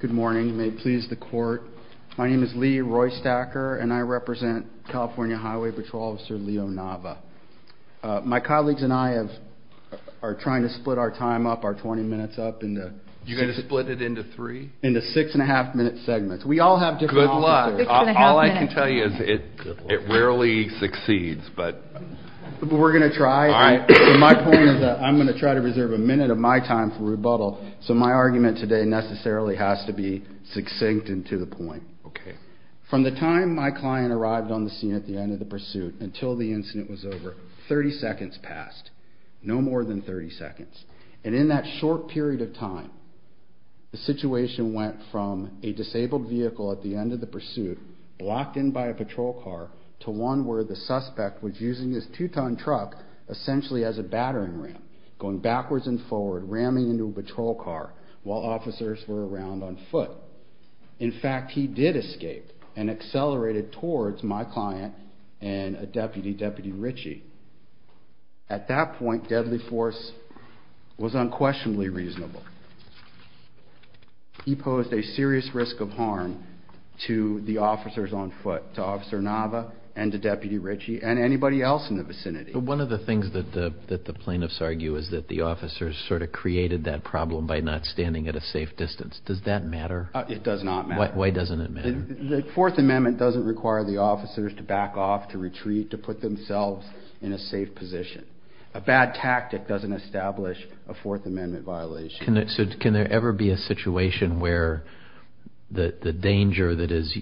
Good morning, may it please the court. My name is Lee Roystacker and I represent California Highway Patrol Officer Leo Nava. My colleagues and I are trying to split our time up, our twenty minutes up, into six and a half minute segments. We all have different offices. Good luck. All I can tell you is it rarely succeeds. But we're going to try. My point is that I'm going to try to reserve a minute of my time for rebuttal. So my argument today necessarily has to be succinct and to the point. From the time my client arrived on the scene at the end of the pursuit until the incident was over, 30 seconds passed, no more than 30 seconds. And in that short period of time, the situation went from a disabled vehicle at the end of the pursuit, blocked in by a patrol car, to one where the suspect was using his two-ton truck essentially as a battering ram, going backwards and forward, ramming into a patrol car while officers were around on foot. In fact, he did escape and accelerated towards my client and a deputy, Deputy Ritchie. At that point, deadly force was unquestionably reasonable. He posed a serious risk of harm to the officers on foot, to Officer Nava and to Deputy Ritchie and anybody else in the vicinity. One of the things that the plaintiffs argue is that the officers sort of created that problem by not standing at a safe distance. Does that matter? It does not matter. Why doesn't it matter? The Fourth Amendment doesn't require the officers to back off, to retreat, to put themselves in a safe position. A bad tactic doesn't establish a Fourth Amendment violation. So can there ever be a situation where the danger that is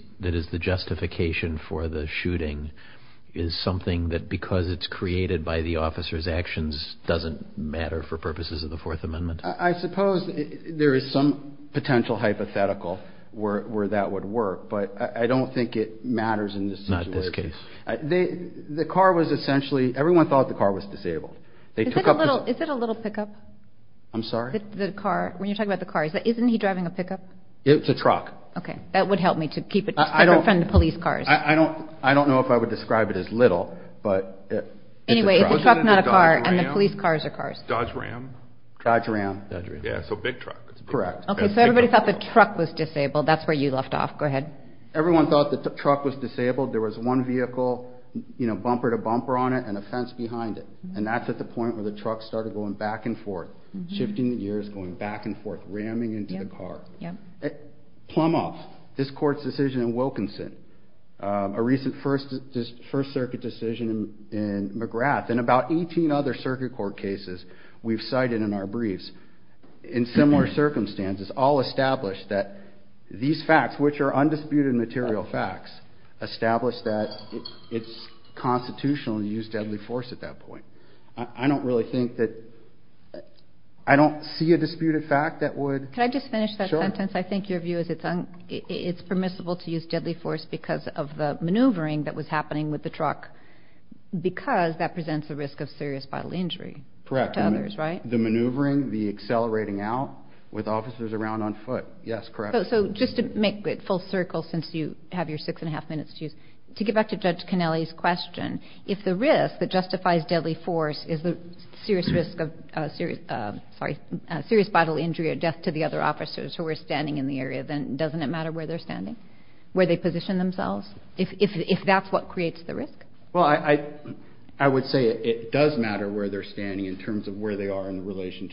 the justification for the shooting is something that, because it's created by the officers' actions, doesn't matter for purposes of the Fourth Amendment? I suppose there is some potential hypothetical where that would work, but I don't think it matters in this situation. Not in this case. The car was essentially, everyone thought the car was disabled. Is it a little pickup? I'm sorry? The car, when you're talking about the car, isn't he driving a pickup? It's a truck. Okay, that would help me to keep it separate from the police cars. I don't know if I would describe it as little, but it's a truck. Anyway, it's a truck, not a car, and the police cars are cars. Dodge Ram? Dodge Ram. Yeah, so big truck. Correct. Okay, so everybody thought the truck was disabled. That's where you left off. Go ahead. Everyone thought the truck was disabled. There was one vehicle, bumper to bumper on it, and a fence behind it, and that's at the point where the truck started going back and forth, shifting gears, going back and forth, ramming into the car. Plum off, this court's decision in Wilkinson, a recent First Circuit decision in McGrath, and about 18 other circuit court cases we've cited in our briefs, in similar circumstances, all established that these facts, which are undisputed material facts, established that it's constitutional to use deadly force at that point. I don't really think that – I don't see a disputed fact that would – Can I just finish that sentence? Sure. I think your view is it's permissible to use deadly force because of the maneuvering that was happening with the truck, because that presents a risk of serious bodily injury to others, right? The maneuvering, the accelerating out with officers around on foot. Yes, correct. So just to make it full circle, since you have your six-and-a-half minutes to use, to get back to Judge Connelly's question, if the risk that justifies deadly force is the serious risk of – sorry, serious bodily injury or death to the other officers who are standing in the area, then doesn't it matter where they're standing, where they position themselves, if that's what creates the risk? Well, I would say it does matter where they're standing in terms of where they are in relation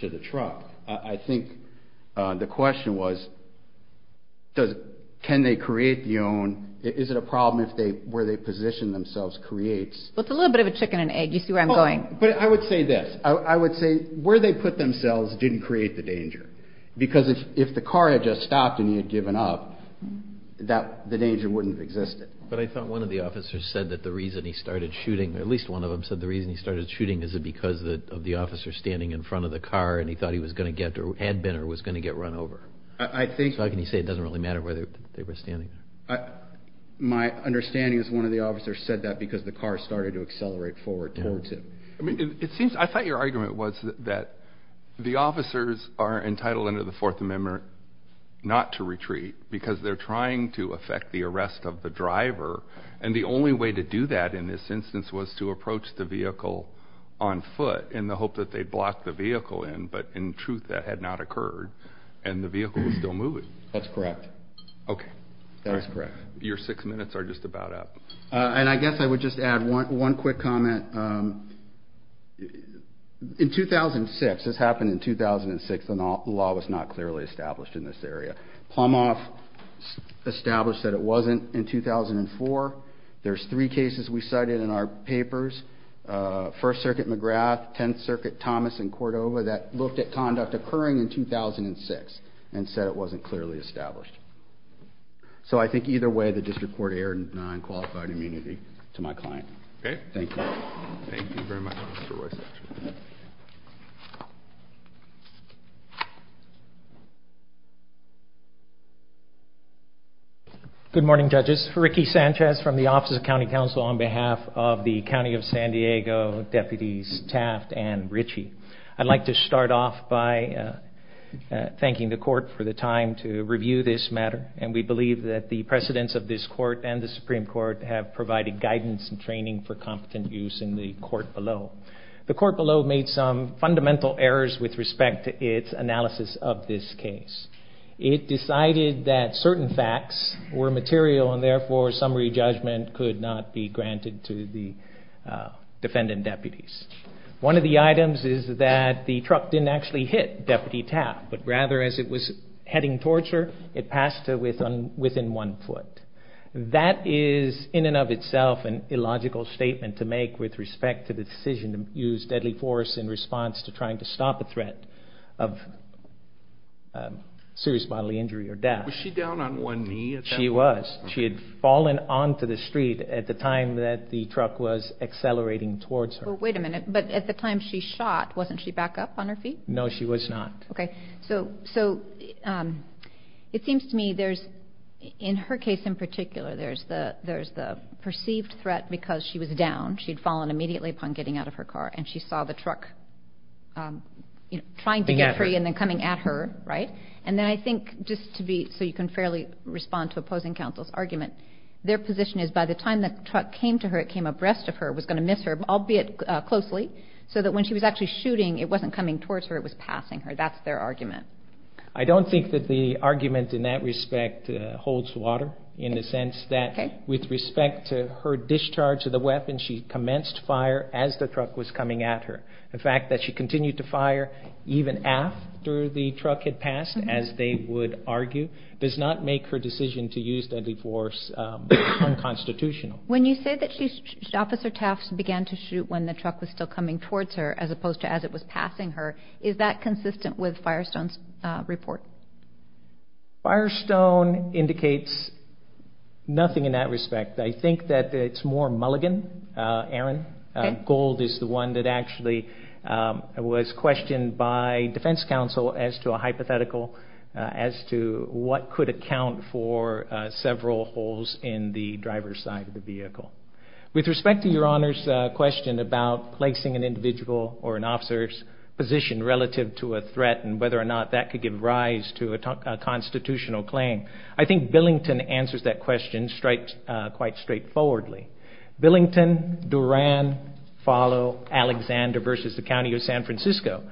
to the truck. I think the question was can they create the own – is it a problem if where they position themselves creates – Well, it's a little bit of a chicken and egg. You see where I'm going. But I would say this. I would say where they put themselves didn't create the danger, because if the car had just stopped and you had given up, the danger wouldn't have existed. But I thought one of the officers said that the reason he started shooting – at least one of them said the reason he started shooting is because of the officer standing in front of the car, and he thought he was going to get – or had been – or was going to get run over. I think – So how can you say it doesn't really matter where they were standing? My understanding is one of the officers said that because the car started to accelerate forward towards him. I thought your argument was that the officers are entitled under the Fourth Amendment not to retreat because they're trying to affect the arrest of the driver, and the only way to do that in this instance was to approach the vehicle on foot in the hope that they'd block the vehicle in, but in truth that had not occurred and the vehicle was still moving. That's correct. Okay. That's correct. Your six minutes are just about up. And I guess I would just add one quick comment. In 2006 – this happened in 2006 – the law was not clearly established in this area. Plumhoff established that it wasn't in 2004. There's three cases we cited in our papers – First Circuit, McGrath, Tenth Circuit, Thomas, and Cordova – that looked at conduct occurring in 2006 and said it wasn't clearly established. So I think either way the district court erred in denying qualified immunity to my client. Okay. Thank you. Thank you very much, Mr. Royce. Good morning, judges. Ricky Sanchez from the Office of County Counsel on behalf of the County of San Diego Deputies Taft and Ritchie. I'd like to start off by thanking the court for the time to review this matter, and we believe that the precedents of this court and the Supreme Court have provided guidance and training for competent use in the court below. The court below made some fundamental errors with respect to its analysis of this case. It decided that certain facts were material and therefore summary judgment could not be granted to the defendant deputies. One of the items is that the truck didn't actually hit Deputy Taft, but rather as it was heading towards her, it passed her within one foot. That is in and of itself an illogical statement to make with respect to the decision to use deadly force in response to trying to stop a threat of serious bodily injury or death. Was she down on one knee at that point? She was. She had fallen onto the street at the time that the truck was accelerating towards her. Well, wait a minute. But at the time she shot, wasn't she back up on her feet? No, she was not. Okay. So it seems to me there's, in her case in particular, there's the perceived threat because she was down. She had fallen immediately upon getting out of her car and she saw the truck trying to get free and then coming at her, right? And then I think just to be so you can fairly respond to opposing counsel's argument, their position is by the time the truck came to her, it came abreast of her, was going to miss her, albeit closely, so that when she was actually shooting, it wasn't coming towards her, it was passing her. That's their argument. I don't think that the argument in that respect holds water in the sense that with respect to her discharge of the weapon, she commenced fire as the truck was coming at her. The fact that she continued to fire even after the truck had passed, as they would argue, does not make her decision to use deadly force unconstitutional. When you say that Officer Taft began to shoot when the truck was still coming towards her as opposed to as it was passing her, is that consistent with Firestone's report? Firestone indicates nothing in that respect. I think that it's more mulligan, Erin. Gold is the one that actually was questioned by defense counsel as to a hypothetical as to what could account for several holes in the driver's side of the vehicle. With respect to your Honor's question about placing an individual or an officer's position relative to a threat and whether or not that could give rise to a constitutional claim, I think Billington answers that question quite straightforwardly. Billington, Duran, Follow, Alexander versus the County of San Francisco.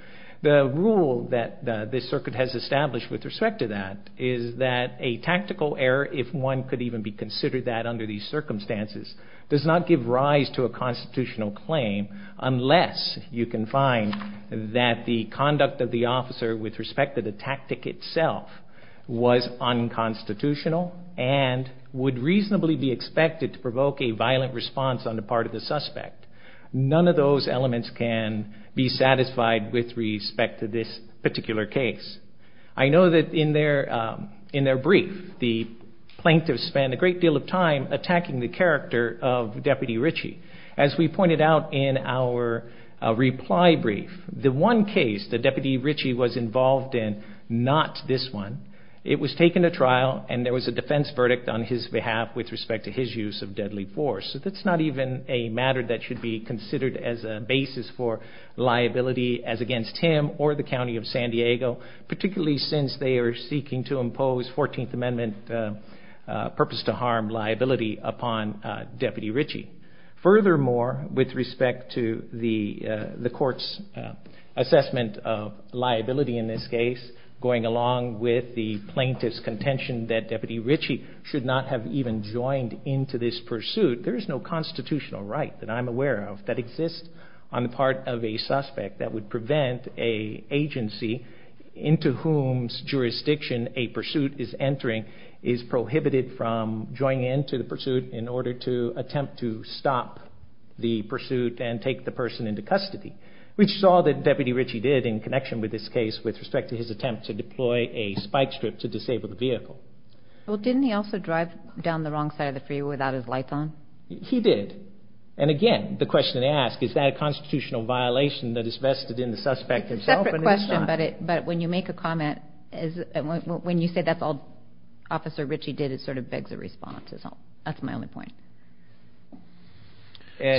The rule that this circuit has established with respect to that is that a tactical error, if one could even be considered that under these circumstances, does not give rise to a constitutional claim unless you can find that the conduct of the officer with respect to the tactic itself was unconstitutional and would reasonably be expected to provoke a violent response on the part of the suspect. None of those elements can be satisfied with respect to this particular case. I know that in their brief, the plaintiffs spent a great deal of time attacking the character of Deputy Ritchie. As we pointed out in our reply brief, the one case that Deputy Ritchie was involved in, not this one, it was taken to trial and there was a defense verdict on his behalf with respect to his use of deadly force. That's not even a matter that should be considered as a basis for liability as against him or the County of San Diego, particularly since they are seeking to impose 14th Amendment purpose to harm liability upon Deputy Ritchie. Furthermore, with respect to the court's assessment of liability in this case, going along with the plaintiff's contention that Deputy Ritchie should not have even joined into this pursuit, there is no constitutional right that I'm aware of that exists on the part of a suspect that would prevent an agency into whom's jurisdiction a pursuit is entering is prohibited from joining into the pursuit in order to attempt to stop the pursuit and take the person into custody, which is all that Deputy Ritchie did in connection with this case with respect to his attempt to deploy a spike strip to disable the vehicle. Well, didn't he also drive down the wrong side of the freeway without his lights on? He did. And again, the question to ask, is that a constitutional violation that is vested in the suspect himself? It's a separate question, but when you make a comment, when you say that's all Officer Ritchie did, it sort of begs a response. That's my only point. I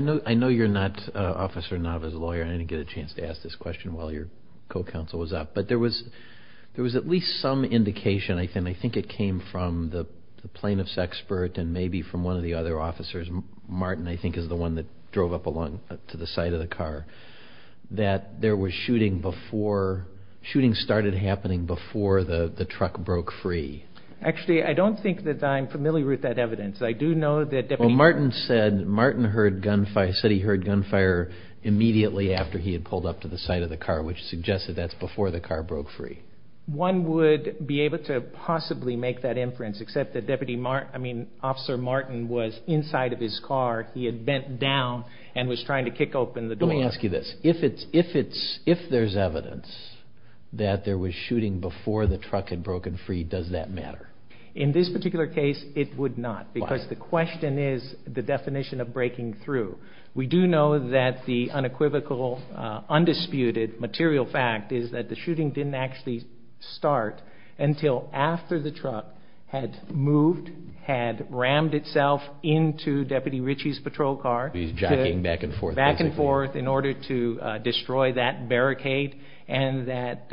know you're not Officer Nava's lawyer and I didn't get a chance to ask this question while your co-counsel was up, but there was at least some indication, I think it came from the plaintiff's expert and maybe from one of the other officers, Martin I think is the one that drove up along to the side of the car, that there was shooting before, shooting started happening before the truck broke free. Actually, I don't think that I'm familiar with that evidence. I do know that Deputy... Well, Martin said he heard gunfire immediately after he had pulled up to the side of the car, which suggests that that's before the car broke free. One would be able to possibly make that inference, except that Officer Martin was inside of his car, he had bent down and was trying to kick open the door. Let me ask you this. If there's evidence that there was shooting before the truck had broken free, does that matter? In this particular case, it would not. Why? Because the question is the definition of breaking through. We do know that the unequivocal, undisputed material fact is that the shooting didn't actually start until after the truck had moved, had rammed itself into Deputy Ritchie's patrol car. He's jacking back and forth. Back and forth in order to destroy that barricade and that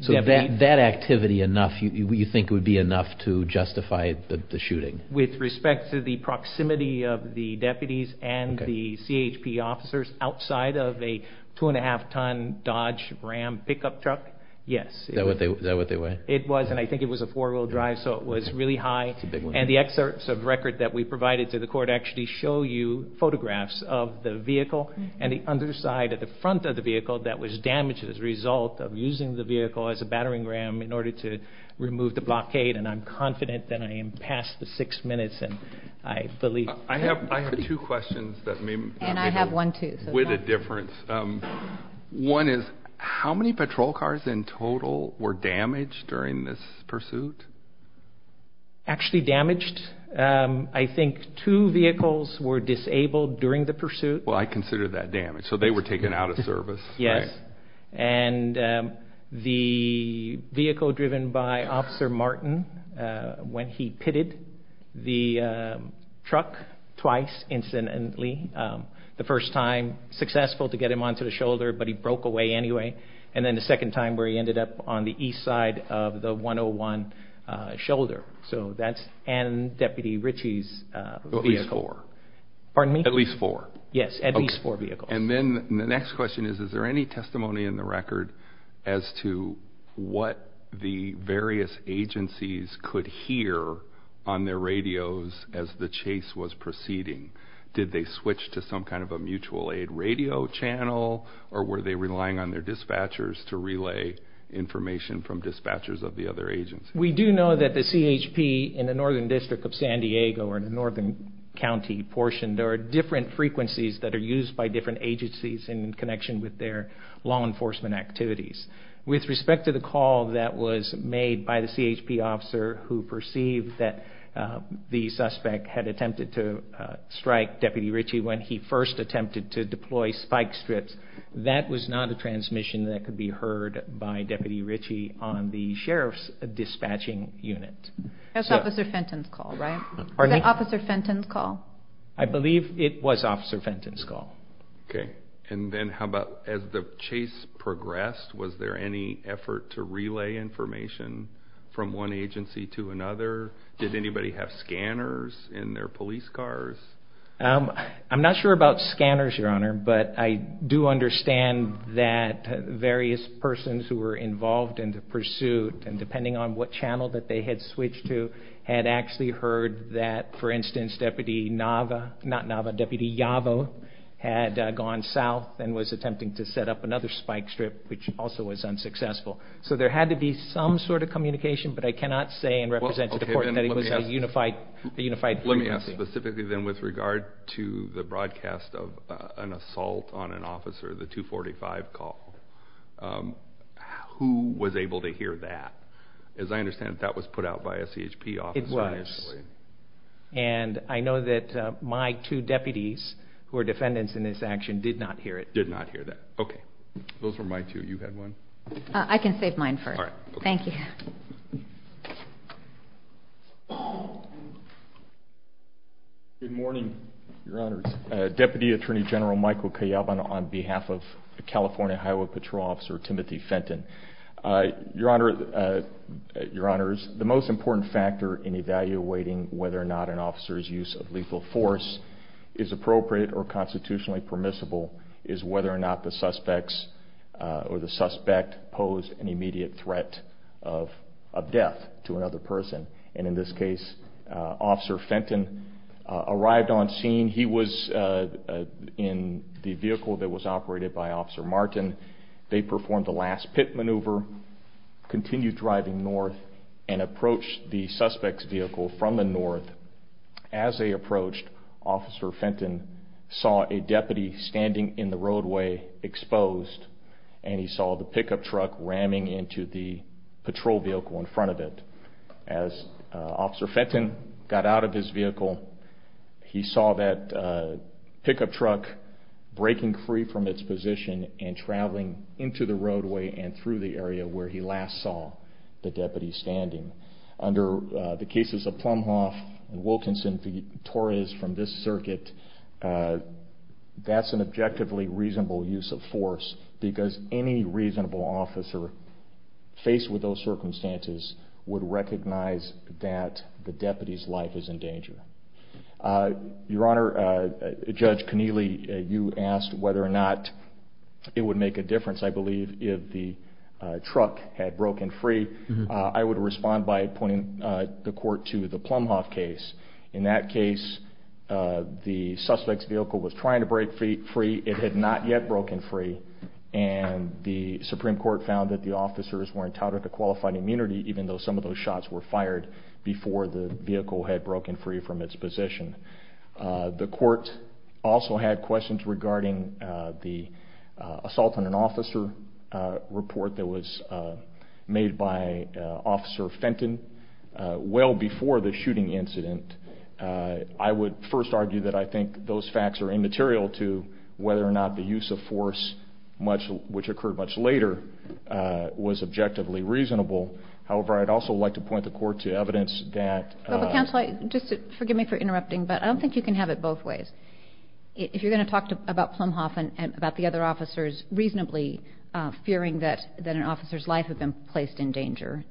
Deputy... So that activity enough you think would be enough to justify the shooting? With respect to the proximity of the deputies and the CHP officers outside of a two-and-a-half-ton Dodge Ram pickup truck, yes. Is that what they were? It was, and I think it was a four-wheel drive, so it was really high. And the excerpts of record that we provided to the court actually show you photographs of the vehicle and the underside of the front of the vehicle that was damaged as a result of using the vehicle as a battering ram in order to remove the blockade, and I'm confident that I am past the six minutes and I believe... I have two questions that may... And I have one, too. With a difference. One is how many patrol cars in total were damaged during this pursuit? Actually damaged? I think two vehicles were disabled during the pursuit. Well, I consider that damage, so they were taken out of service, right? Yes. And the vehicle driven by Officer Martin, when he pitted the truck twice incidentally, the first time successful to get him onto the shoulder, but he broke away anyway, and then the second time where he ended up on the east side of the 101 shoulder. So that's Deputy Ritchie's vehicle. At least four. Pardon me? At least four. Yes, at least four vehicles. And then the next question is, is there any testimony in the record as to what the various agencies could hear on their radios as the chase was proceeding? Did they switch to some kind of a mutual aid radio channel, or were they relying on their dispatchers to relay information from dispatchers of the other agencies? We do know that the CHP in the northern district of San Diego or in the northern county portion, there are different frequencies that are used by different agencies in connection with their law enforcement activities. With respect to the call that was made by the CHP officer who perceived that the suspect had attempted to strike Deputy Ritchie when he first attempted to deploy spike strips, that was not a transmission that could be heard by Deputy Ritchie on the sheriff's dispatching unit. That was Officer Fenton's call, right? Pardon me? Was that Officer Fenton's call? I believe it was Officer Fenton's call. Okay. And then how about as the chase progressed, was there any effort to relay information from one agency to another? Did anybody have scanners in their police cars? I'm not sure about scanners, Your Honor, but I do understand that various persons who were involved in the pursuit, and depending on what channel that they had switched to, had actually heard that, for instance, Deputy Nava, not Nava, Deputy Yavo, had gone south and was attempting to set up another spike strip, which also was unsuccessful. So there had to be some sort of communication, but I cannot say and represent to the court that it was a unified frequency. Let me ask specifically then with regard to the broadcast of an assault on an officer, the 245 call, who was able to hear that? As I understand it, that was put out by a CHP officer initially. It was. And I know that my two deputies who are defendants in this action did not hear it. Did not hear that. Okay. Those were my two. You had one? I can save mine first. All right. Thank you. Good morning, Your Honors. Deputy Attorney General Michael Kayyaban on behalf of California, Highway Patrol Officer Timothy Fenton. Your Honors, the most important factor in evaluating whether or not an officer's use of lethal force is appropriate or constitutionally permissible is whether or not the suspects or the suspect posed an immediate threat of death to another person. And in this case, Officer Fenton arrived on scene. He was in the vehicle that was operated by Officer Martin. They performed the last pit maneuver, continued driving north, and approached the suspect's vehicle from the north. As they approached, Officer Fenton saw a deputy standing in the roadway exposed, and he saw the pickup truck ramming into the patrol vehicle in front of it. As Officer Fenton got out of his vehicle, he saw that pickup truck breaking free from its position and traveling into the roadway and through the area where he last saw the deputy standing. Under the cases of Plumhoff and Wilkinson v. Torres from this circuit, that's an objectively reasonable use of force because any reasonable officer faced with those circumstances would recognize that the deputy's life is in danger. Your Honor, Judge Keneally, you asked whether or not it would make a difference, I believe, if the truck had broken free. I would respond by pointing the court to the Plumhoff case. In that case, the suspect's vehicle was trying to break free. It had not yet broken free. The Supreme Court found that the officers were entitled to qualified immunity, even though some of those shots were fired before the vehicle had broken free from its position. The court also had questions regarding the assault on an officer report that was made by Officer Fenton. Well before the shooting incident, I would first argue that I think those facts are immaterial to whether or not the use of force, which occurred much later, was objectively reasonable. However, I'd also like to point the court to evidence that- Counsel, just forgive me for interrupting, but I don't think you can have it both ways. If you're going to talk about Plumhoff and about the other officers reasonably fearing that an officer's life had been placed in danger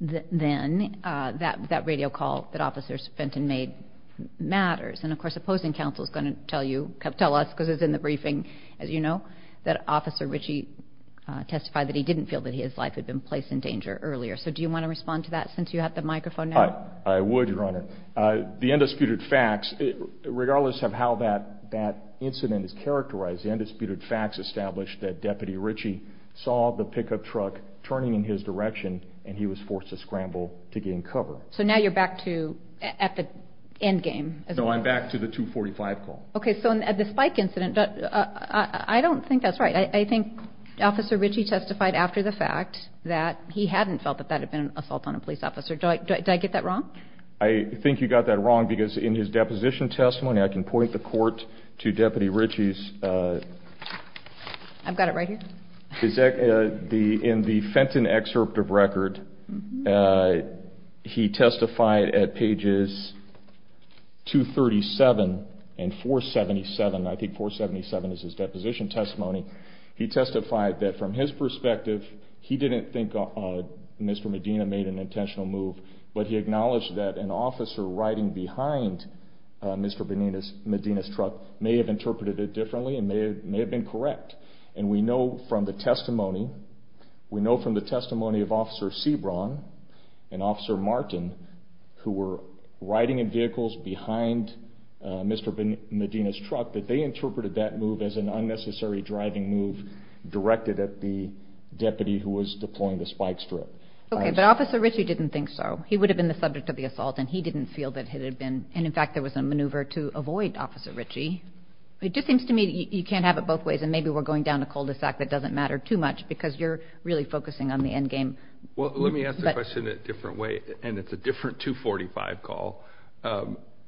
then, that radio call that Officers Fenton made matters. And of course, opposing counsel is going to tell us, because it's in the briefing, as you know, that Officer Ritchie testified that he didn't feel that his life had been placed in danger earlier. So do you want to respond to that since you have the microphone now? I would, Your Honor. The undisputed facts, regardless of how that incident is characterized, the undisputed facts establish that Deputy Ritchie saw the pickup truck turning in his direction and he was forced to scramble to gain cover. So now you're back to- at the end game. So I'm back to the 245 call. Okay, so at the spike incident, I don't think that's right. I think Officer Ritchie testified after the fact that he hadn't felt that that had been an assault on a police officer. Did I get that wrong? I think you got that wrong because in his deposition testimony, I can point the court to Deputy Ritchie's- I've got it right here. In the Fenton excerpt of record, he testified at pages 237 and 477. I think 477 is his deposition testimony. He testified that from his perspective, he didn't think Mr. Medina made an intentional move, but he acknowledged that an officer riding behind Mr. Medina's truck may have interpreted it differently and may have been correct. And we know from the testimony of Officer Sebron and Officer Martin, who were riding in vehicles behind Mr. Medina's truck, that they interpreted that move as an unnecessary driving move directed at the deputy who was deploying the spike strip. Okay, but Officer Ritchie didn't think so. He would have been the subject of the assault and he didn't feel that it had been. And in fact, there was a maneuver to avoid Officer Ritchie. It just seems to me that you can't have it both ways, and maybe we're going down a cul-de-sac that doesn't matter too much because you're really focusing on the end game. Well, let me ask the question a different way, and it's a different 245 call.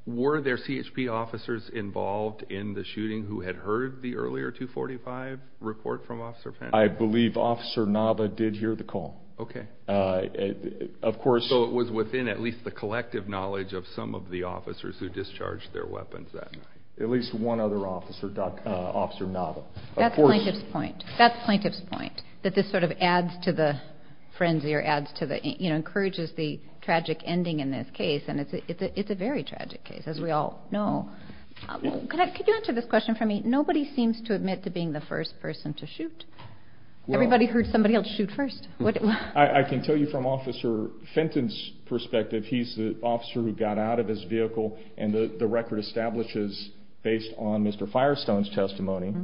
Were there CHP officers involved in the shooting who had heard the earlier 245 report from Officer Fenton? I believe Officer Nava did hear the call. Okay. Of course- So it was within at least the collective knowledge of some of the officers who discharged their weapons that night. At least one other officer, Officer Nava. That's the plaintiff's point. That's the plaintiff's point, that this sort of adds to the frenzy or encourages the tragic ending in this case, and it's a very tragic case, as we all know. Could you answer this question for me? Nobody seems to admit to being the first person to shoot. Everybody heard somebody else shoot first. I can tell you from Officer Fenton's perspective, he's the officer who got out of his vehicle, and the record establishes, based on Mr. Firestone's testimony,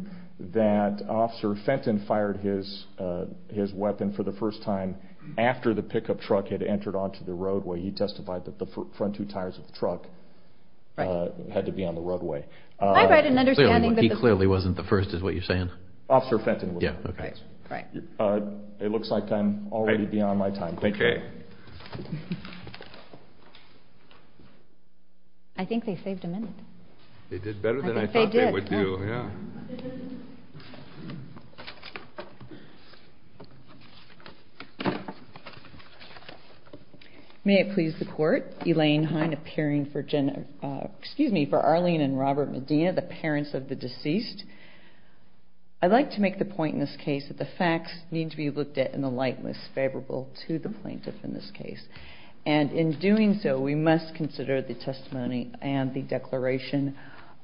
that Officer Fenton fired his weapon for the first time after the pickup truck had entered onto the roadway. He testified that the front two tires of the truck had to be on the roadway. He clearly wasn't the first, is what you're saying? Officer Fenton was. It looks like I'm already beyond my time. Thank you. Okay. I think they saved a minute. They did better than I thought they would do. I think they did. Yeah. May it please the Court, Elaine Heine appearing for Arlene and Robert Medina, the parents of the deceased. I'd like to make the point in this case that the facts need to be looked at in the light that's favorable to the plaintiff in this case. And in doing so, we must consider the testimony and the declaration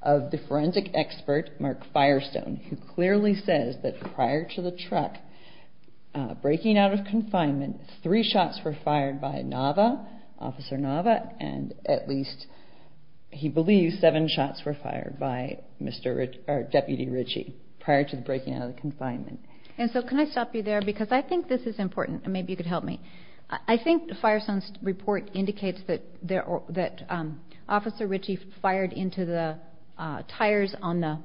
of the forensic expert, Mark Firestone, who clearly says that prior to the truck breaking out of confinement, three shots were fired by Nava, Officer Nava, and at least he believes seven shots were fired by Deputy Ritchie prior to the breaking out of the confinement. And so can I stop you there? Because I think this is important, and maybe you could help me. I think Firestone's report indicates that Officer Ritchie fired into the tires on the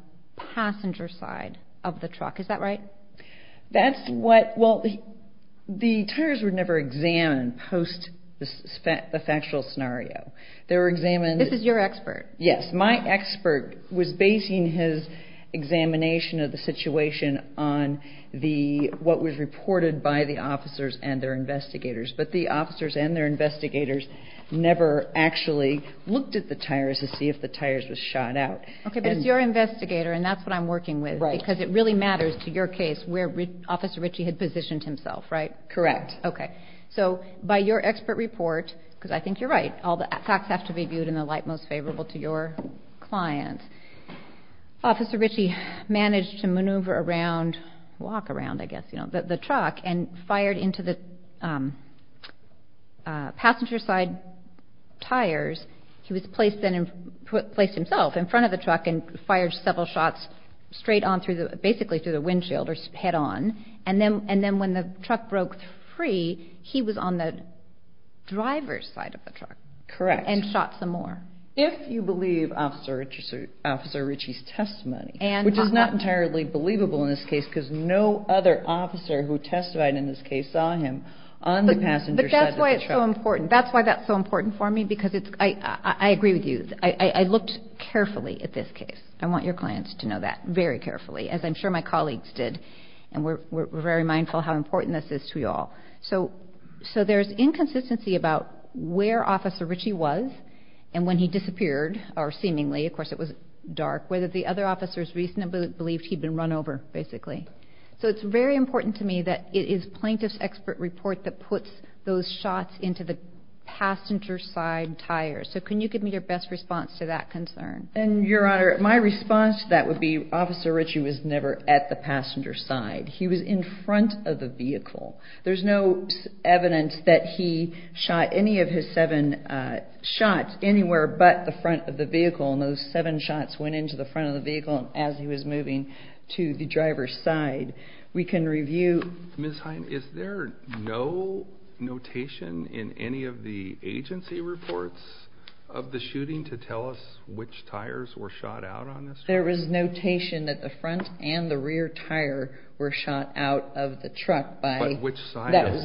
passenger side of the truck. Is that right? That's what the tires were never examined post the factual scenario. They were examined. This is your expert. Yes, my expert was basing his examination of the situation on what was reported by the officers and their investigators. But the officers and their investigators never actually looked at the tires to see if the tires were shot out. Okay, but it's your investigator, and that's what I'm working with. Right. Because it really matters to your case where Officer Ritchie had positioned himself, right? Correct. Okay. So by your expert report, because I think you're right, all the facts have to be viewed in the light most favorable to your client, Officer Ritchie managed to maneuver around, walk around, I guess, you know, the truck and fired into the passenger side tires. He was placed himself in front of the truck and fired several shots straight on through the – basically through the windshield or head on. And then when the truck broke free, he was on the driver's side of the truck. Correct. And shot some more. If you believe Officer Ritchie's testimony, which is not entirely believable in this case because no other officer who testified in this case saw him on the passenger side of the truck. That's so important. That's why that's so important for me because it's – I agree with you. I looked carefully at this case. I want your clients to know that, very carefully, as I'm sure my colleagues did. And we're very mindful how important this is to you all. So there's inconsistency about where Officer Ritchie was and when he disappeared, or seemingly. Of course, it was dark. Whether the other officers reasonably believed he'd been run over, basically. So it's very important to me that it is Plaintiff's expert report that puts those shots into the passenger side tires. So can you give me your best response to that concern? And, Your Honor, my response to that would be Officer Ritchie was never at the passenger side. He was in front of the vehicle. There's no evidence that he shot any of his seven shots anywhere but the front of the vehicle. And those seven shots went into the front of the vehicle as he was moving to the driver's side. We can review. Ms. Heim, is there no notation in any of the agency reports of the shooting to tell us which tires were shot out on this truck? There was notation that the front and the rear tire were shot out of the truck by – But which side of the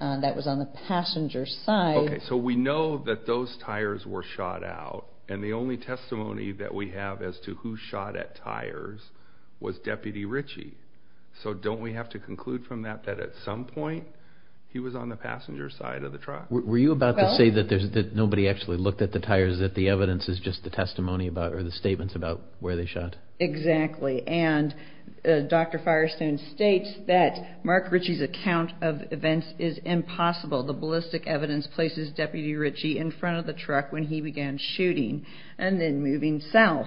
truck? That was on the passenger side. Okay, so we know that those tires were shot out, and the only testimony that we have as to who shot at tires was Deputy Ritchie. So don't we have to conclude from that that at some point he was on the passenger side of the truck? Were you about to say that nobody actually looked at the tires, that the evidence is just the testimony about or the statements about where they shot? Exactly. And Dr. Firestone states that Mark Ritchie's account of events is impossible. The ballistic evidence places Deputy Ritchie in front of the truck when he began shooting and then moving south.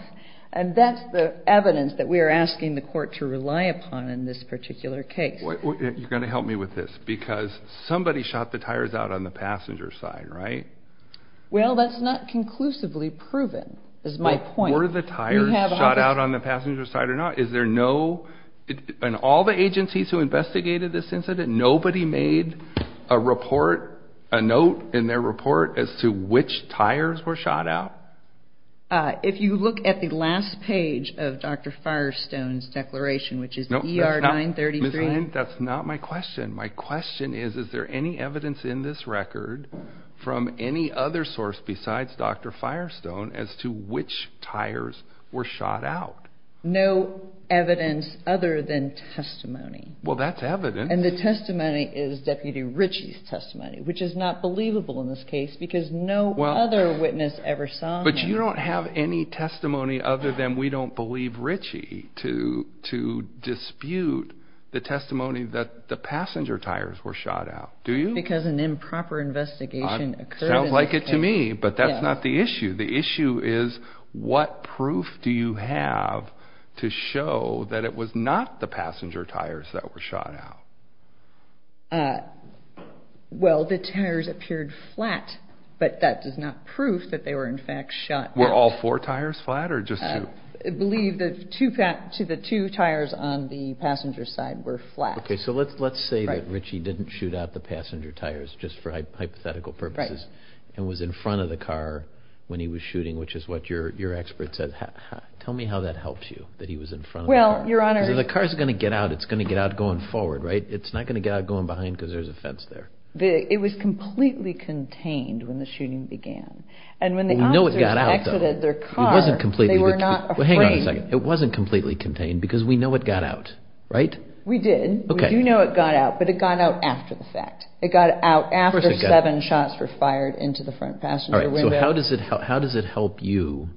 And that's the evidence that we are asking the court to rely upon in this particular case. You're going to help me with this, because somebody shot the tires out on the passenger side, right? Well, that's not conclusively proven, is my point. Were the tires shot out on the passenger side or not? And all the agencies who investigated this incident, nobody made a report, a note in their report as to which tires were shot out? If you look at the last page of Dr. Firestone's declaration, which is ER 933. That's not my question. My question is, is there any evidence in this record from any other source besides Dr. Firestone as to which tires were shot out? No evidence other than testimony. Well, that's evidence. And the testimony is Deputy Ritchie's testimony, which is not believable in this case because no other witness ever saw them. But you don't have any testimony other than we don't believe Ritchie to dispute the testimony that the passenger tires were shot out. Do you? Because an improper investigation occurred. Sounds like it to me, but that's not the issue. The issue is, what proof do you have to show that it was not the passenger tires that were shot out? Well, the tires appeared flat, but that does not prove that they were, in fact, shot out. Were all four tires flat or just two? I believe the two tires on the passenger side were flat. Okay, so let's say that Ritchie didn't shoot out the passenger tires just for hypothetical purposes and was in front of the car when he was shooting, which is what your expert said. Tell me how that helps you, that he was in front of the car. Because if the car is going to get out, it's going to get out going forward, right? It's not going to get out going behind because there's a fence there. It was completely contained when the shooting began. And when the officers exited their car, they were not afraid. Hang on a second. It wasn't completely contained because we know it got out, right? We did. We do know it got out, but it got out after the fact. It got out after seven shots were fired into the front passenger window. So how does it help you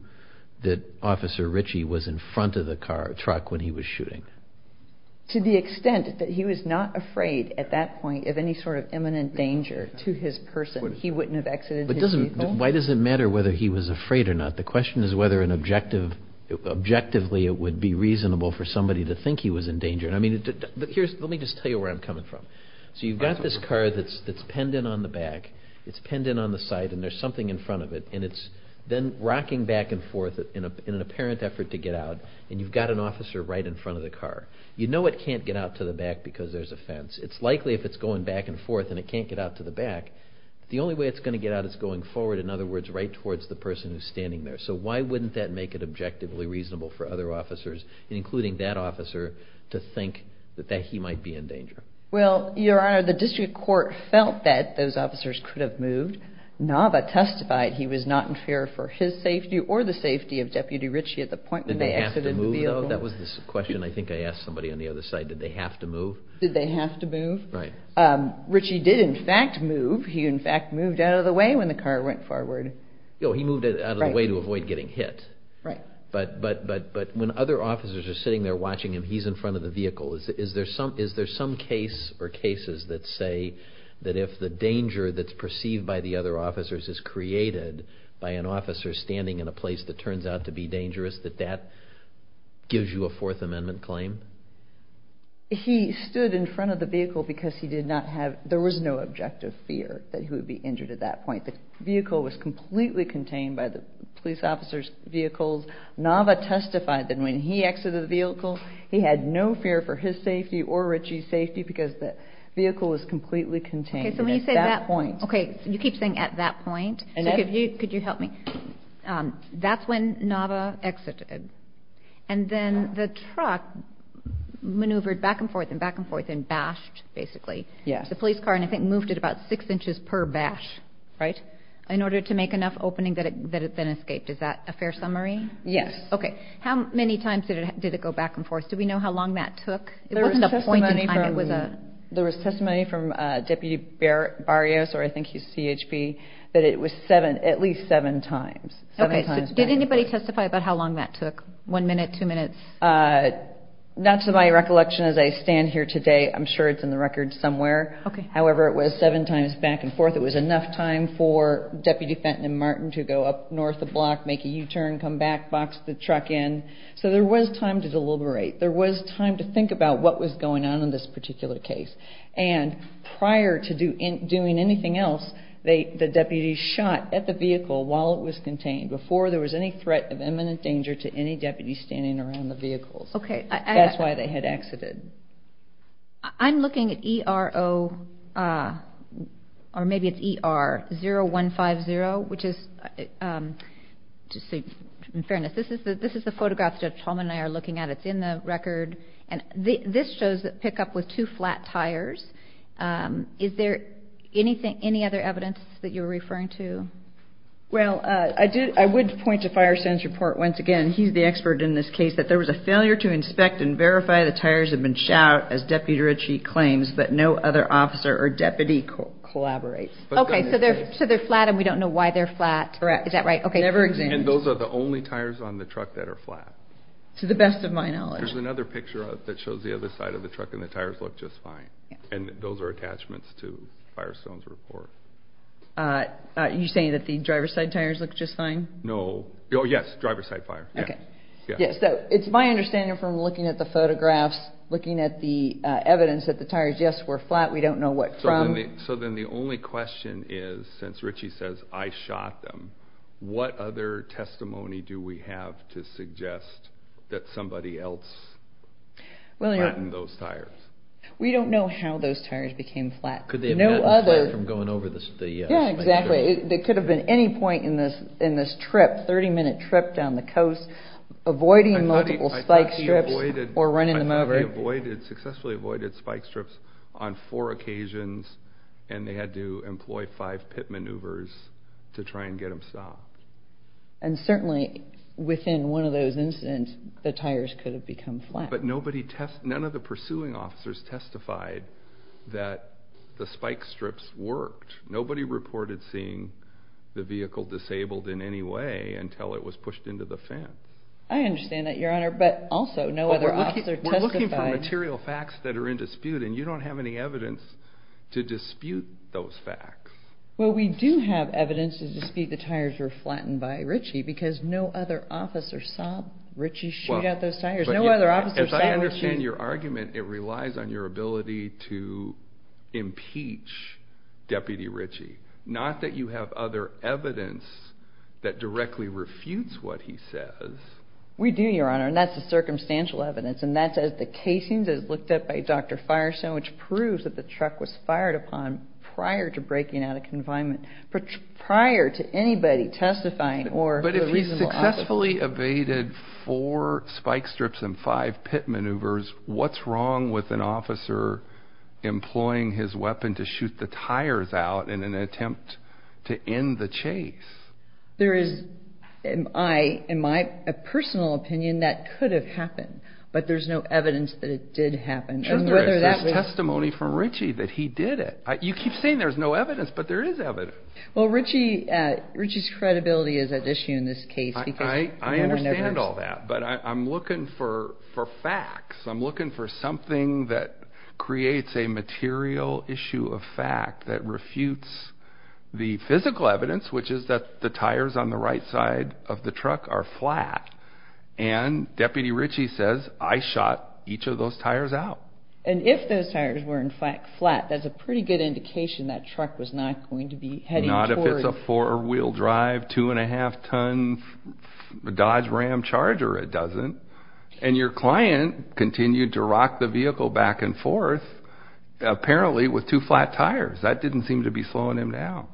that Officer Ritchie was in front of the truck when he was shooting? To the extent that he was not afraid at that point of any sort of imminent danger to his person. He wouldn't have exited his vehicle. Why does it matter whether he was afraid or not? The question is whether objectively it would be reasonable for somebody to think he was in danger. Let me just tell you where I'm coming from. So you've got this car that's penned in on the back. It's penned in on the side and there's something in front of it. And it's then rocking back and forth in an apparent effort to get out. And you've got an officer right in front of the car. You know it can't get out to the back because there's a fence. It's likely if it's going back and forth and it can't get out to the back, the only way it's going to get out is going forward. In other words, right towards the person who's standing there. So why wouldn't that make it objectively reasonable for other officers, including that officer, to think that he might be in danger? Well, Your Honor, the district court felt that those officers could have moved. NAVA testified he was not in fear for his safety or the safety of Deputy Ritchie at the point when they exited the vehicle. Did they have to move, though? That was the question I think I asked somebody on the other side. Did they have to move? Did they have to move? Right. Ritchie did, in fact, move. He, in fact, moved out of the way when the car went forward. Oh, he moved out of the way to avoid getting hit. Right. But when other officers are sitting there watching him, he's in front of the vehicle. Is there some case or cases that say that if the danger that's perceived by the other officers is created by an officer standing in a place that turns out to be dangerous, that that gives you a Fourth Amendment claim? He stood in front of the vehicle because he did not have – there was no objective fear that he would be injured at that point. Nava testified that when he exited the vehicle, he had no fear for his safety or Ritchie's safety because the vehicle was completely contained at that point. Okay. You keep saying at that point. Could you help me? That's when Nava exited. And then the truck maneuvered back and forth and back and forth and bashed, basically, the police car and I think moved it about six inches per bash. Right. In order to make enough opening that it then escaped. Is that a fair summary? Yes. Okay. How many times did it go back and forth? Did we know how long that took? It wasn't a point in time. There was testimony from Deputy Barrios, or I think he's CHB, that it was at least seven times. Okay. So did anybody testify about how long that took? One minute? Two minutes? Not to my recollection as I stand here today. I'm sure it's in the record somewhere. However, it was seven times back and forth. It was enough time for Deputy Fenton and Martin to go up north the block, make a U-turn, come back, box the truck in. So there was time to deliberate. There was time to think about what was going on in this particular case. And prior to doing anything else, the deputies shot at the vehicle while it was contained before there was any threat of imminent danger to any deputies standing around the vehicles. Okay. That's why they had exited. I'm looking at ERO, or maybe it's ER, 0150, which is, to say in fairness, this is the photograph Judge Holman and I are looking at. It's in the record. And this shows a pickup with two flat tires. Is there any other evidence that you're referring to? Well, I would point to Firesan's report once again. He's the expert in this case, that there was a failure to inspect and verify the tires had been shot, as Deputy Ritchie claims, but no other officer or deputy collaborates. Okay. So they're flat, and we don't know why they're flat. Correct. Is that right? Okay. Never examined. And those are the only tires on the truck that are flat. To the best of my knowledge. There's another picture that shows the other side of the truck, and the tires look just fine. And those are attachments to Firesan's report. Are you saying that the driver's side tires look just fine? No. Oh, yes, driver's side tire. Okay. Yeah. So it's my understanding from looking at the photographs, looking at the evidence, that the tires, yes, were flat. We don't know what from. So then the only question is, since Ritchie says, I shot them, what other testimony do we have to suggest that somebody else flattened those tires? We don't know how those tires became flat. Could they have flattened flat from going over the, yes. Yeah, exactly. There could have been any point in this trip, 30-minute trip down the coast, avoiding multiple spike strips or running them over. I thought they successfully avoided spike strips on four occasions, and they had to employ five pit maneuvers to try and get them stopped. And certainly within one of those incidents, the tires could have become flat. But none of the pursuing officers testified that the spike strips worked. Nobody reported seeing the vehicle disabled in any way until it was pushed into the fence. I understand that, Your Honor, but also no other officer testified. We're looking for material facts that are in dispute, and you don't have any evidence to dispute those facts. Well, we do have evidence to dispute the tires were flattened by Ritchie because no other officer saw Ritchie shoot at those tires. No other officer saw Ritchie. I understand your argument. It relies on your ability to impeach Deputy Ritchie, not that you have other evidence that directly refutes what he says. We do, Your Honor, and that's the circumstantial evidence, and that's as the casings as looked at by Dr. Fireson, which proves that the truck was fired upon prior to breaking out of confinement, prior to anybody testifying or the reasonable officer. If you successfully evaded four spike strips and five pit maneuvers, what's wrong with an officer employing his weapon to shoot the tires out in an attempt to end the chase? There is, in my personal opinion, that could have happened, but there's no evidence that it did happen. There's testimony from Ritchie that he did it. You keep saying there's no evidence, but there is evidence. Well, Ritchie's credibility is at issue in this case. I understand all that, but I'm looking for facts. I'm looking for something that creates a material issue of fact that refutes the physical evidence, which is that the tires on the right side of the truck are flat, and Deputy Ritchie says, I shot each of those tires out. And if those tires were, in fact, flat, that's a pretty good indication that truck was not going to be heading toward. Not if it's a four-wheel drive, two-and-a-half-ton Dodge Ram Charger, it doesn't. And your client continued to rock the vehicle back and forth, apparently with two flat tires. That didn't seem to be slowing him down.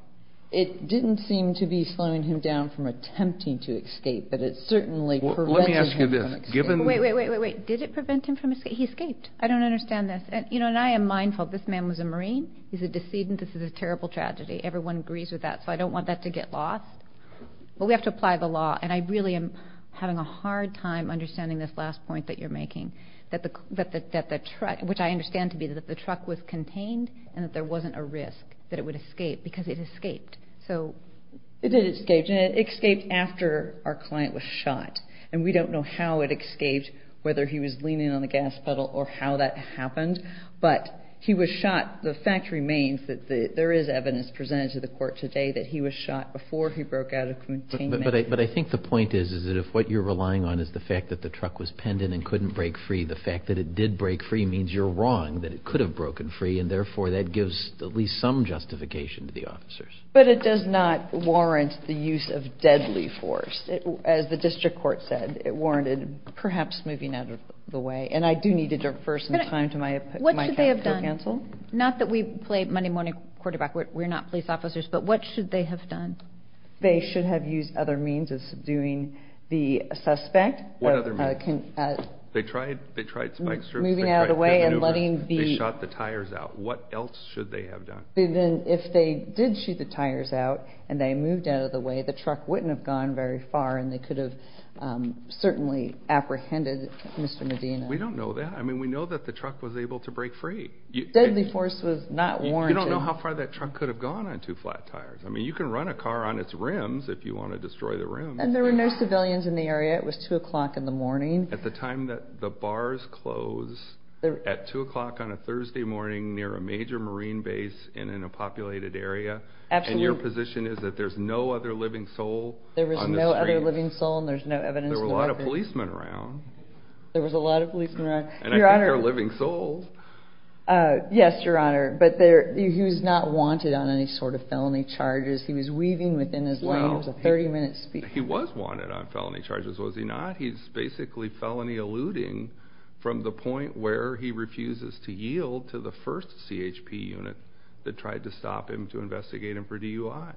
It didn't seem to be slowing him down from attempting to escape, but it certainly prevented him from escaping. Let me ask you this. Wait, wait, wait, wait, wait. Did it prevent him from escaping? He escaped. I don't understand this. You know, and I am mindful, this man was a Marine. He's a decedent. This is a terrible tragedy. Everyone agrees with that, so I don't want that to get lost. But we have to apply the law, and I really am having a hard time understanding this last point that you're making, that the truck, which I understand to be that the truck was contained and that there wasn't a risk that it would escape because it escaped. It did escape, and it escaped after our client was shot, and we don't know how it escaped, whether he was leaning on the gas pedal or how that happened. But he was shot. The fact remains that there is evidence presented to the court today that he was shot before he broke out of containment. But I think the point is, is that if what you're relying on is the fact that the truck was penned in and couldn't break free, the fact that it did break free means you're wrong, that it could have broken free, But it does not warrant the use of deadly force. As the district court said, it warranted perhaps moving out of the way. And I do need to defer some time to my counsel. What should they have done? Not that we play money-money quarterback. We're not police officers. But what should they have done? They should have used other means of subduing the suspect. What other means? They tried spike strips. Moving out of the way and letting the… They shot the tires out. What else should they have done? If they did shoot the tires out and they moved out of the way, the truck wouldn't have gone very far and they could have certainly apprehended Mr. Medina. We don't know that. I mean, we know that the truck was able to break free. Deadly force was not warranted. You don't know how far that truck could have gone on two flat tires. I mean, you can run a car on its rims if you want to destroy the rims. And there were no civilians in the area. It was 2 o'clock in the morning. At the time that the bars closed at 2 o'clock on a Thursday morning near a major marine base and in a populated area. And your position is that there's no other living soul on the stream? There was no other living soul and there's no evidence. There were a lot of policemen around. There was a lot of policemen around. And I think they're living souls. Yes, Your Honor, but he was not wanted on any sort of felony charges. He was weaving within his lane. It was a 30-minute speech. He was wanted on felony charges, was he not? He's basically felony eluding from the point where he refuses to yield to the first CHP unit that tried to stop him to investigate him for DUI.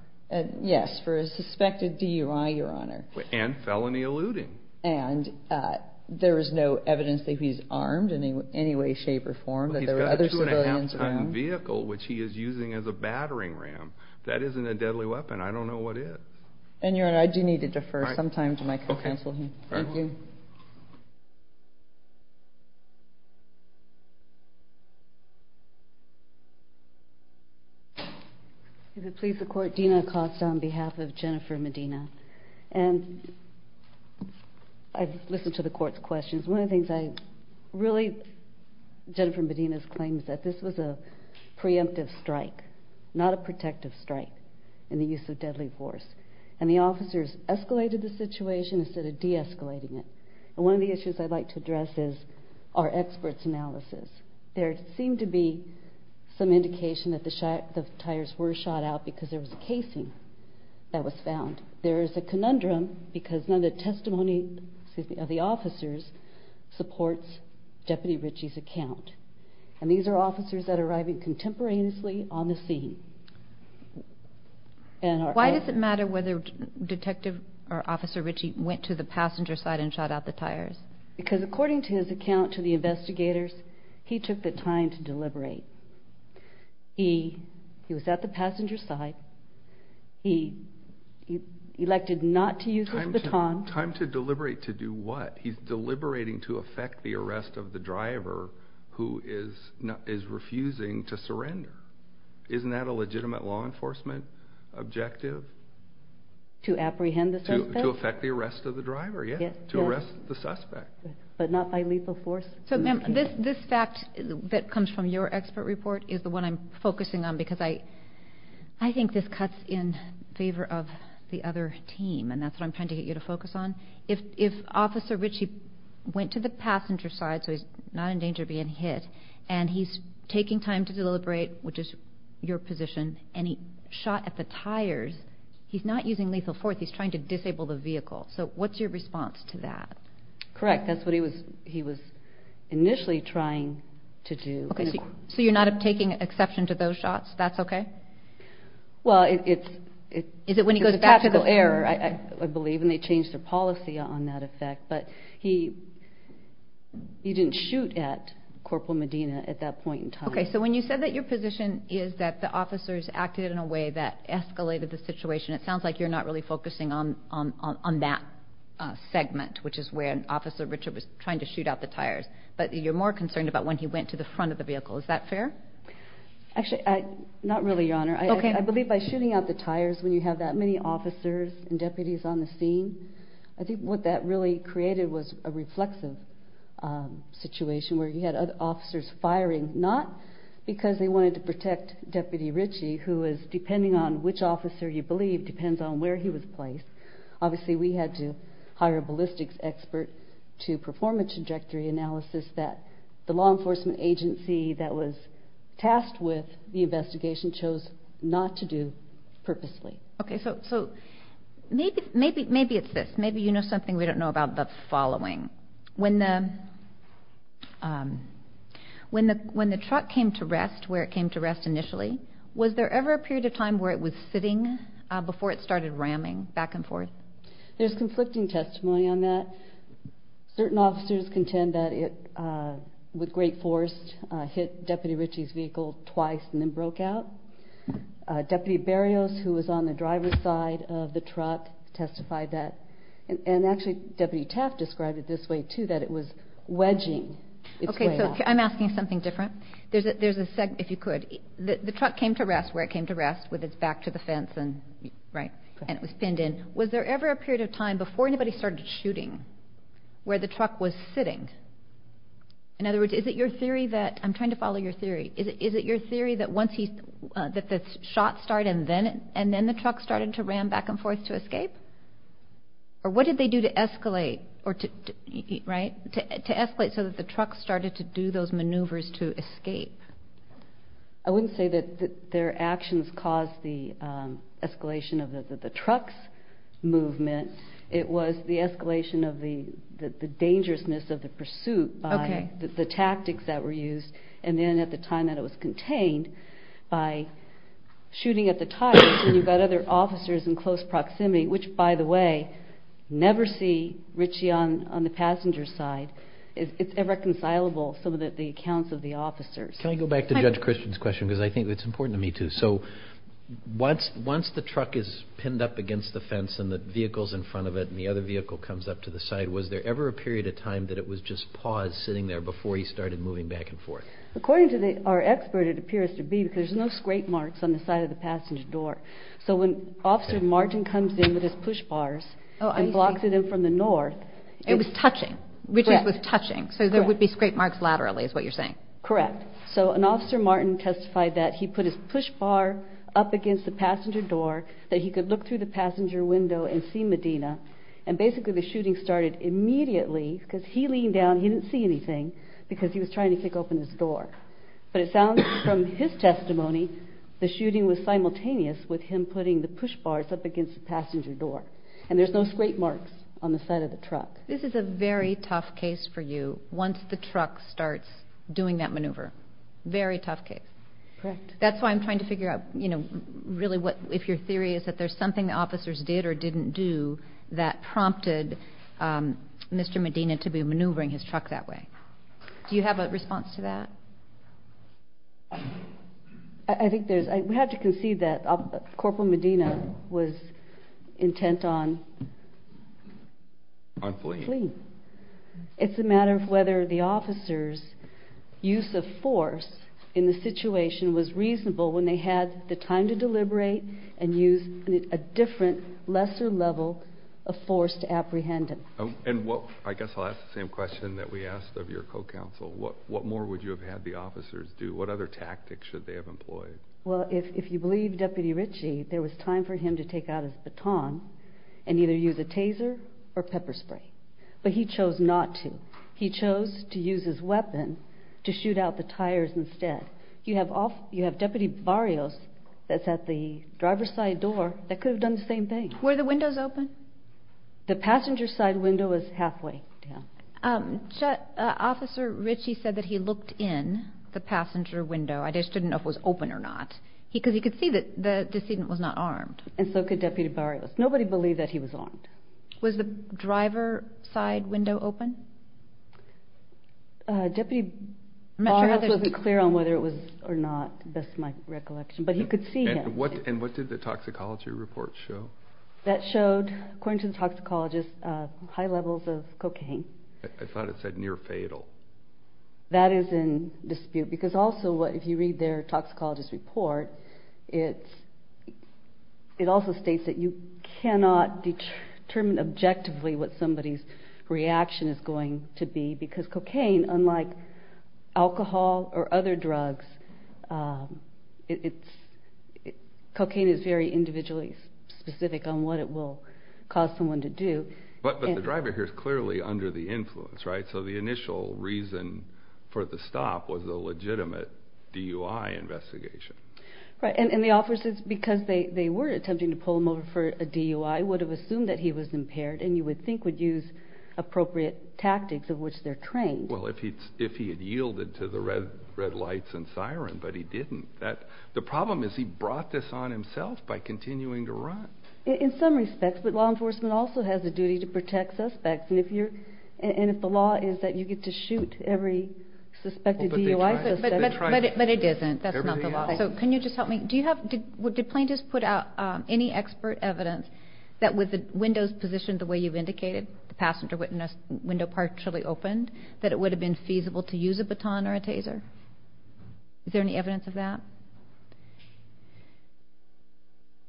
Yes, for a suspected DUI, Your Honor. And felony eluding. And there is no evidence that he's armed in any way, shape, or form. He's got a 2.5-ton vehicle, which he is using as a battering ram. That isn't a deadly weapon. I don't know what is. And, Your Honor, I do need to defer some time to my counsel here. Thank you. If it pleases the Court, Dina Acosta on behalf of Jennifer Medina. And I've listened to the Court's questions. One of the things I really... Jennifer Medina's claim is that this was a preemptive strike, not a protective strike in the use of deadly force. And the officers escalated the situation instead of de-escalating it. And one of the issues I'd like to address is our experts' analysis. There seemed to be some indication that the tires were shot out because there was a casing that was found. There is a conundrum because none of the testimony of the officers supports Deputy Ritchie's account. And these are officers that are arriving contemporaneously on the scene. Why does it matter whether Detective or Officer Ritchie went to the passenger side and shot out the tires? Because according to his account to the investigators, he took the time to deliberate. He was at the passenger side. He elected not to use his baton. Time to deliberate to do what? He's deliberating to effect the arrest of the driver who is refusing to surrender. Isn't that a legitimate law enforcement objective? To apprehend the suspect? To effect the arrest of the driver, yes. To arrest the suspect. But not by lethal force? So, ma'am, this fact that comes from your expert report is the one I'm focusing on because I think this cuts in favor of the other team, and that's what I'm trying to get you to focus on. If Officer Ritchie went to the passenger side so he's not in danger of being hit and he's taking time to deliberate, which is your position, and he shot at the tires, he's not using lethal force. He's trying to disable the vehicle. So what's your response to that? Correct. That's what he was initially trying to do. So you're not taking exception to those shots? That's okay? Well, it's a tactical error, I believe, and they changed their policy on that effect, but he didn't shoot at Corporal Medina at that point in time. Okay. So when you said that your position is that the officers acted in a way that escalated the situation, it sounds like you're not really focusing on that segment, which is where Officer Ritchie was trying to shoot out the tires, but you're more concerned about when he went to the front of the vehicle. Is that fair? Actually, not really, Your Honor. Okay. I believe by shooting out the tires when you have that many officers and deputies on the scene, I think what that really created was a reflexive situation where you had other officers firing, not because they wanted to protect Deputy Ritchie, who is depending on which officer you believe depends on where he was placed. Obviously, we had to hire a ballistics expert to perform a trajectory analysis that the law enforcement agency that was tasked with the investigation chose not to do purposely. Okay. So maybe it's this. Maybe you know something we don't know about the following. When the truck came to rest, where it came to rest initially, was there ever a period of time where it was sitting before it started ramming back and forth? There's conflicting testimony on that. Certain officers contend that it, with great force, hit Deputy Ritchie's vehicle twice and then broke out. Deputy Berrios, who was on the driver's side of the truck, testified that. And actually, Deputy Taft described it this way, too, that it was wedging its way out. I'm asking something different. If you could, the truck came to rest where it came to rest with its back to the fence, and it was pinned in. Was there ever a period of time before anybody started shooting where the truck was sitting? In other words, is it your theory that—I'm trying to follow your theory. Is it your theory that once the shots started and then the truck started to ram back and forth to escape? Or what did they do to escalate so that the truck started to do those maneuvers to escape? I wouldn't say that their actions caused the escalation of the truck's movement. It was the escalation of the dangerousness of the pursuit by the tactics that were used. And then at the time that it was contained, by shooting at the tires, and you've got other officers in close proximity, which, by the way, never see Ritchie on the passenger side. It's irreconcilable, some of the accounts of the officers. Can I go back to Judge Christian's question, because I think it's important to me, too? So once the truck is pinned up against the fence and the vehicle's in front of it, and the other vehicle comes up to the side, was there ever a period of time that it was just paused sitting there before he started moving back and forth? According to our expert, it appears to be because there's no scrape marks on the side of the passenger door. So when Officer Martin comes in with his push bars and blocks it in from the north— It was touching. Ritchie was touching. So there would be scrape marks laterally is what you're saying. Correct. So an officer, Martin, testified that he put his push bar up against the passenger door, that he could look through the passenger window and see Medina, and basically the shooting started immediately because he leaned down, he didn't see anything, because he was trying to kick open his door. But it sounds from his testimony the shooting was simultaneous with him putting the push bars up against the passenger door, and there's no scrape marks on the side of the truck. This is a very tough case for you once the truck starts doing that maneuver. Very tough case. Correct. That's why I'm trying to figure out if your theory is that there's something the officers did or didn't do that prompted Mr. Medina to be maneuvering his truck that way. Do you have a response to that? I think there's—we have to concede that Corporal Medina was intent on— On fleeing. It's a matter of whether the officers' use of force in the situation was reasonable when they had the time to deliberate and use a different, lesser level of force to apprehend him. I guess I'll ask the same question that we asked of your co-counsel. What more would you have had the officers do? What other tactics should they have employed? Well, if you believe Deputy Ritchie, there was time for him to take out his baton and either use a taser or pepper spray, but he chose not to. He chose to use his weapon to shoot out the tires instead. You have Deputy Barrios that's at the driver's side door that could have done the same thing. Were the windows open? The passenger side window is halfway down. Officer Ritchie said that he looked in the passenger window. I just didn't know if it was open or not because he could see that the decedent was not armed. And so could Deputy Barrios. Nobody believed that he was armed. Was the driver's side window open? Deputy Barrios wasn't clear on whether it was or not, best my recollection, but he could see him. And what did the toxicology report show? That showed, according to the toxicologist, high levels of cocaine. I thought it said near fatal. That is in dispute because also if you read their toxicologist report, it also states that you cannot determine objectively what somebody's reaction is going to be because cocaine, unlike alcohol or other drugs, cocaine is very individually specific on what it will cause someone to do. But the driver here is clearly under the influence, right? And so the initial reason for the stop was a legitimate DUI investigation. And the officers, because they were attempting to pull him over for a DUI, would have assumed that he was impaired and you would think would use appropriate tactics of which they're trained. Well, if he had yielded to the red lights and siren, but he didn't. The problem is he brought this on himself by continuing to run. In some respects, but law enforcement also has a duty to protect suspects. And if the law is that you get to shoot every suspected DUI suspect. But it isn't. That's not the law. So can you just help me? Did plaintiffs put out any expert evidence that with the windows positioned the way you've indicated, the passenger window partially opened, that it would have been feasible to use a baton or a taser? Is there any evidence of that?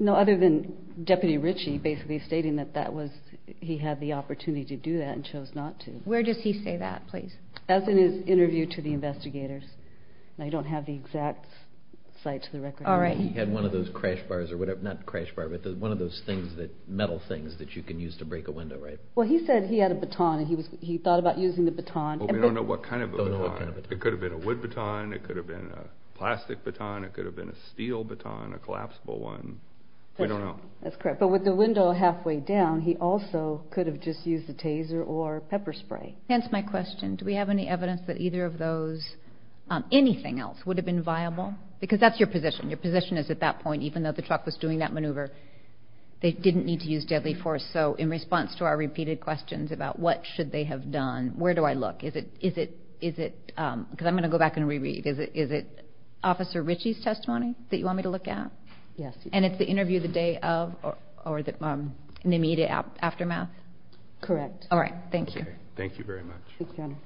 No, other than Deputy Ritchie basically stating that he had the opportunity to do that and chose not to. Where does he say that, please? As in his interview to the investigators. I don't have the exact site to the record. All right. He had one of those metal things that you can use to break a window, right? Well, he said he had a baton and he thought about using the baton. But we don't know what kind of a baton. It could have been a wood baton. It could have been a plastic baton. It could have been a steel baton, a collapsible one. We don't know. That's correct. But with the window halfway down, he also could have just used a taser or pepper spray. Hence my question. Do we have any evidence that either of those, anything else, would have been viable? Because that's your position. Your position is at that point, even though the truck was doing that maneuver, they didn't need to use deadly force. So in response to our repeated questions about what should they have done, where do I look? Because I'm going to go back and reread. Is it Officer Ritchie's testimony that you want me to look at? Yes. And it's the interview the day of or an immediate aftermath? Correct. All right. Thank you. Thank you very much.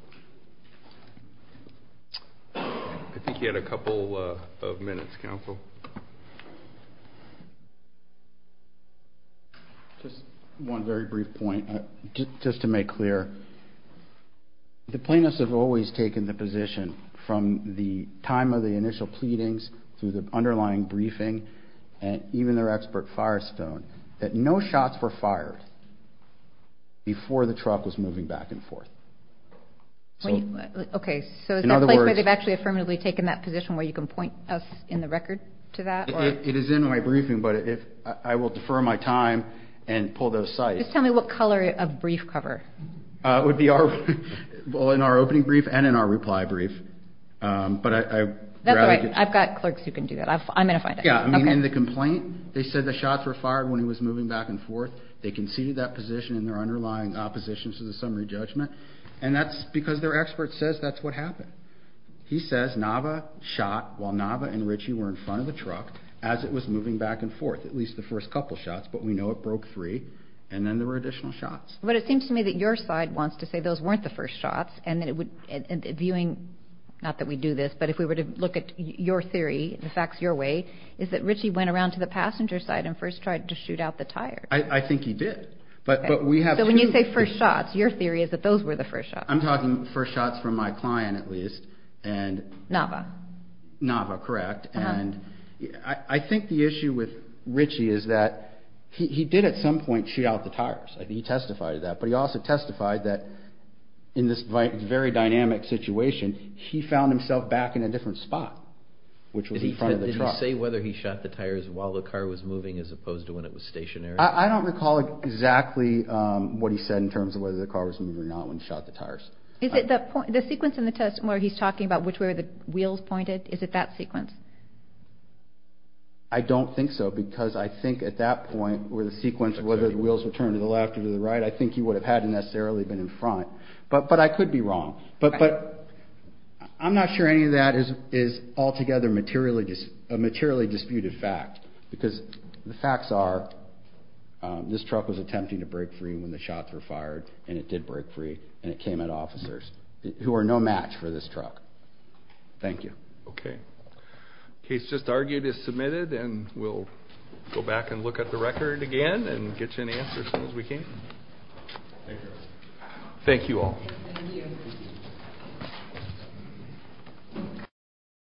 I think you had a couple of minutes, Counsel. Just one very brief point. Just to make clear, the plaintiffs have always taken the position from the time of the initial pleadings through the underlying briefing and even their expert fire stone that no shots were fired before the truck was moving back and forth. Okay. So is that place where they've actually affirmatively taken that position where you can point us in the record to that? It is in my briefing, but I will defer my time and pull those sites. Okay. Just tell me what color of brief cover. It would be our opening brief and in our reply brief. That's right. I've got clerks who can do that. I'm going to find it. Yeah. I mean, in the complaint, they said the shots were fired when he was moving back and forth. They conceded that position in their underlying opposition to the summary judgment, and that's because their expert says that's what happened. He says Nava shot while Nava and Ritchie were in front of the truck as it was moving back and forth, at least the first couple shots, but we know it broke three, and then there were additional shots. But it seems to me that your side wants to say those weren't the first shots, and viewing not that we do this, but if we were to look at your theory, the facts your way, is that Ritchie went around to the passenger side and first tried to shoot out the tires. I think he did. But we have two. So when you say first shots, your theory is that those were the first shots. I'm talking first shots from my client at least. Nava. Nava, correct. I think the issue with Ritchie is that he did at some point shoot out the tires. He testified to that. But he also testified that in this very dynamic situation, he found himself back in a different spot, which was in front of the truck. Did he say whether he shot the tires while the car was moving as opposed to when it was stationary? I don't recall exactly what he said in terms of whether the car was moving or not when he shot the tires. Is it the sequence in the test where he's talking about which way the wheels pointed? Is it that sequence? I don't think so, because I think at that point where the sequence, whether the wheels were turned to the left or to the right, I think he would have had necessarily been in front. But I could be wrong. But I'm not sure any of that is altogether a materially disputed fact, because the facts are this truck was attempting to break free when the shots were fired, and it did break free, and it came at officers who are no match for this truck. Thank you. Okay. The case just argued is submitted, and we'll go back and look at the record again and get you an answer as soon as we can. Thank you. Thank you all. Thank you.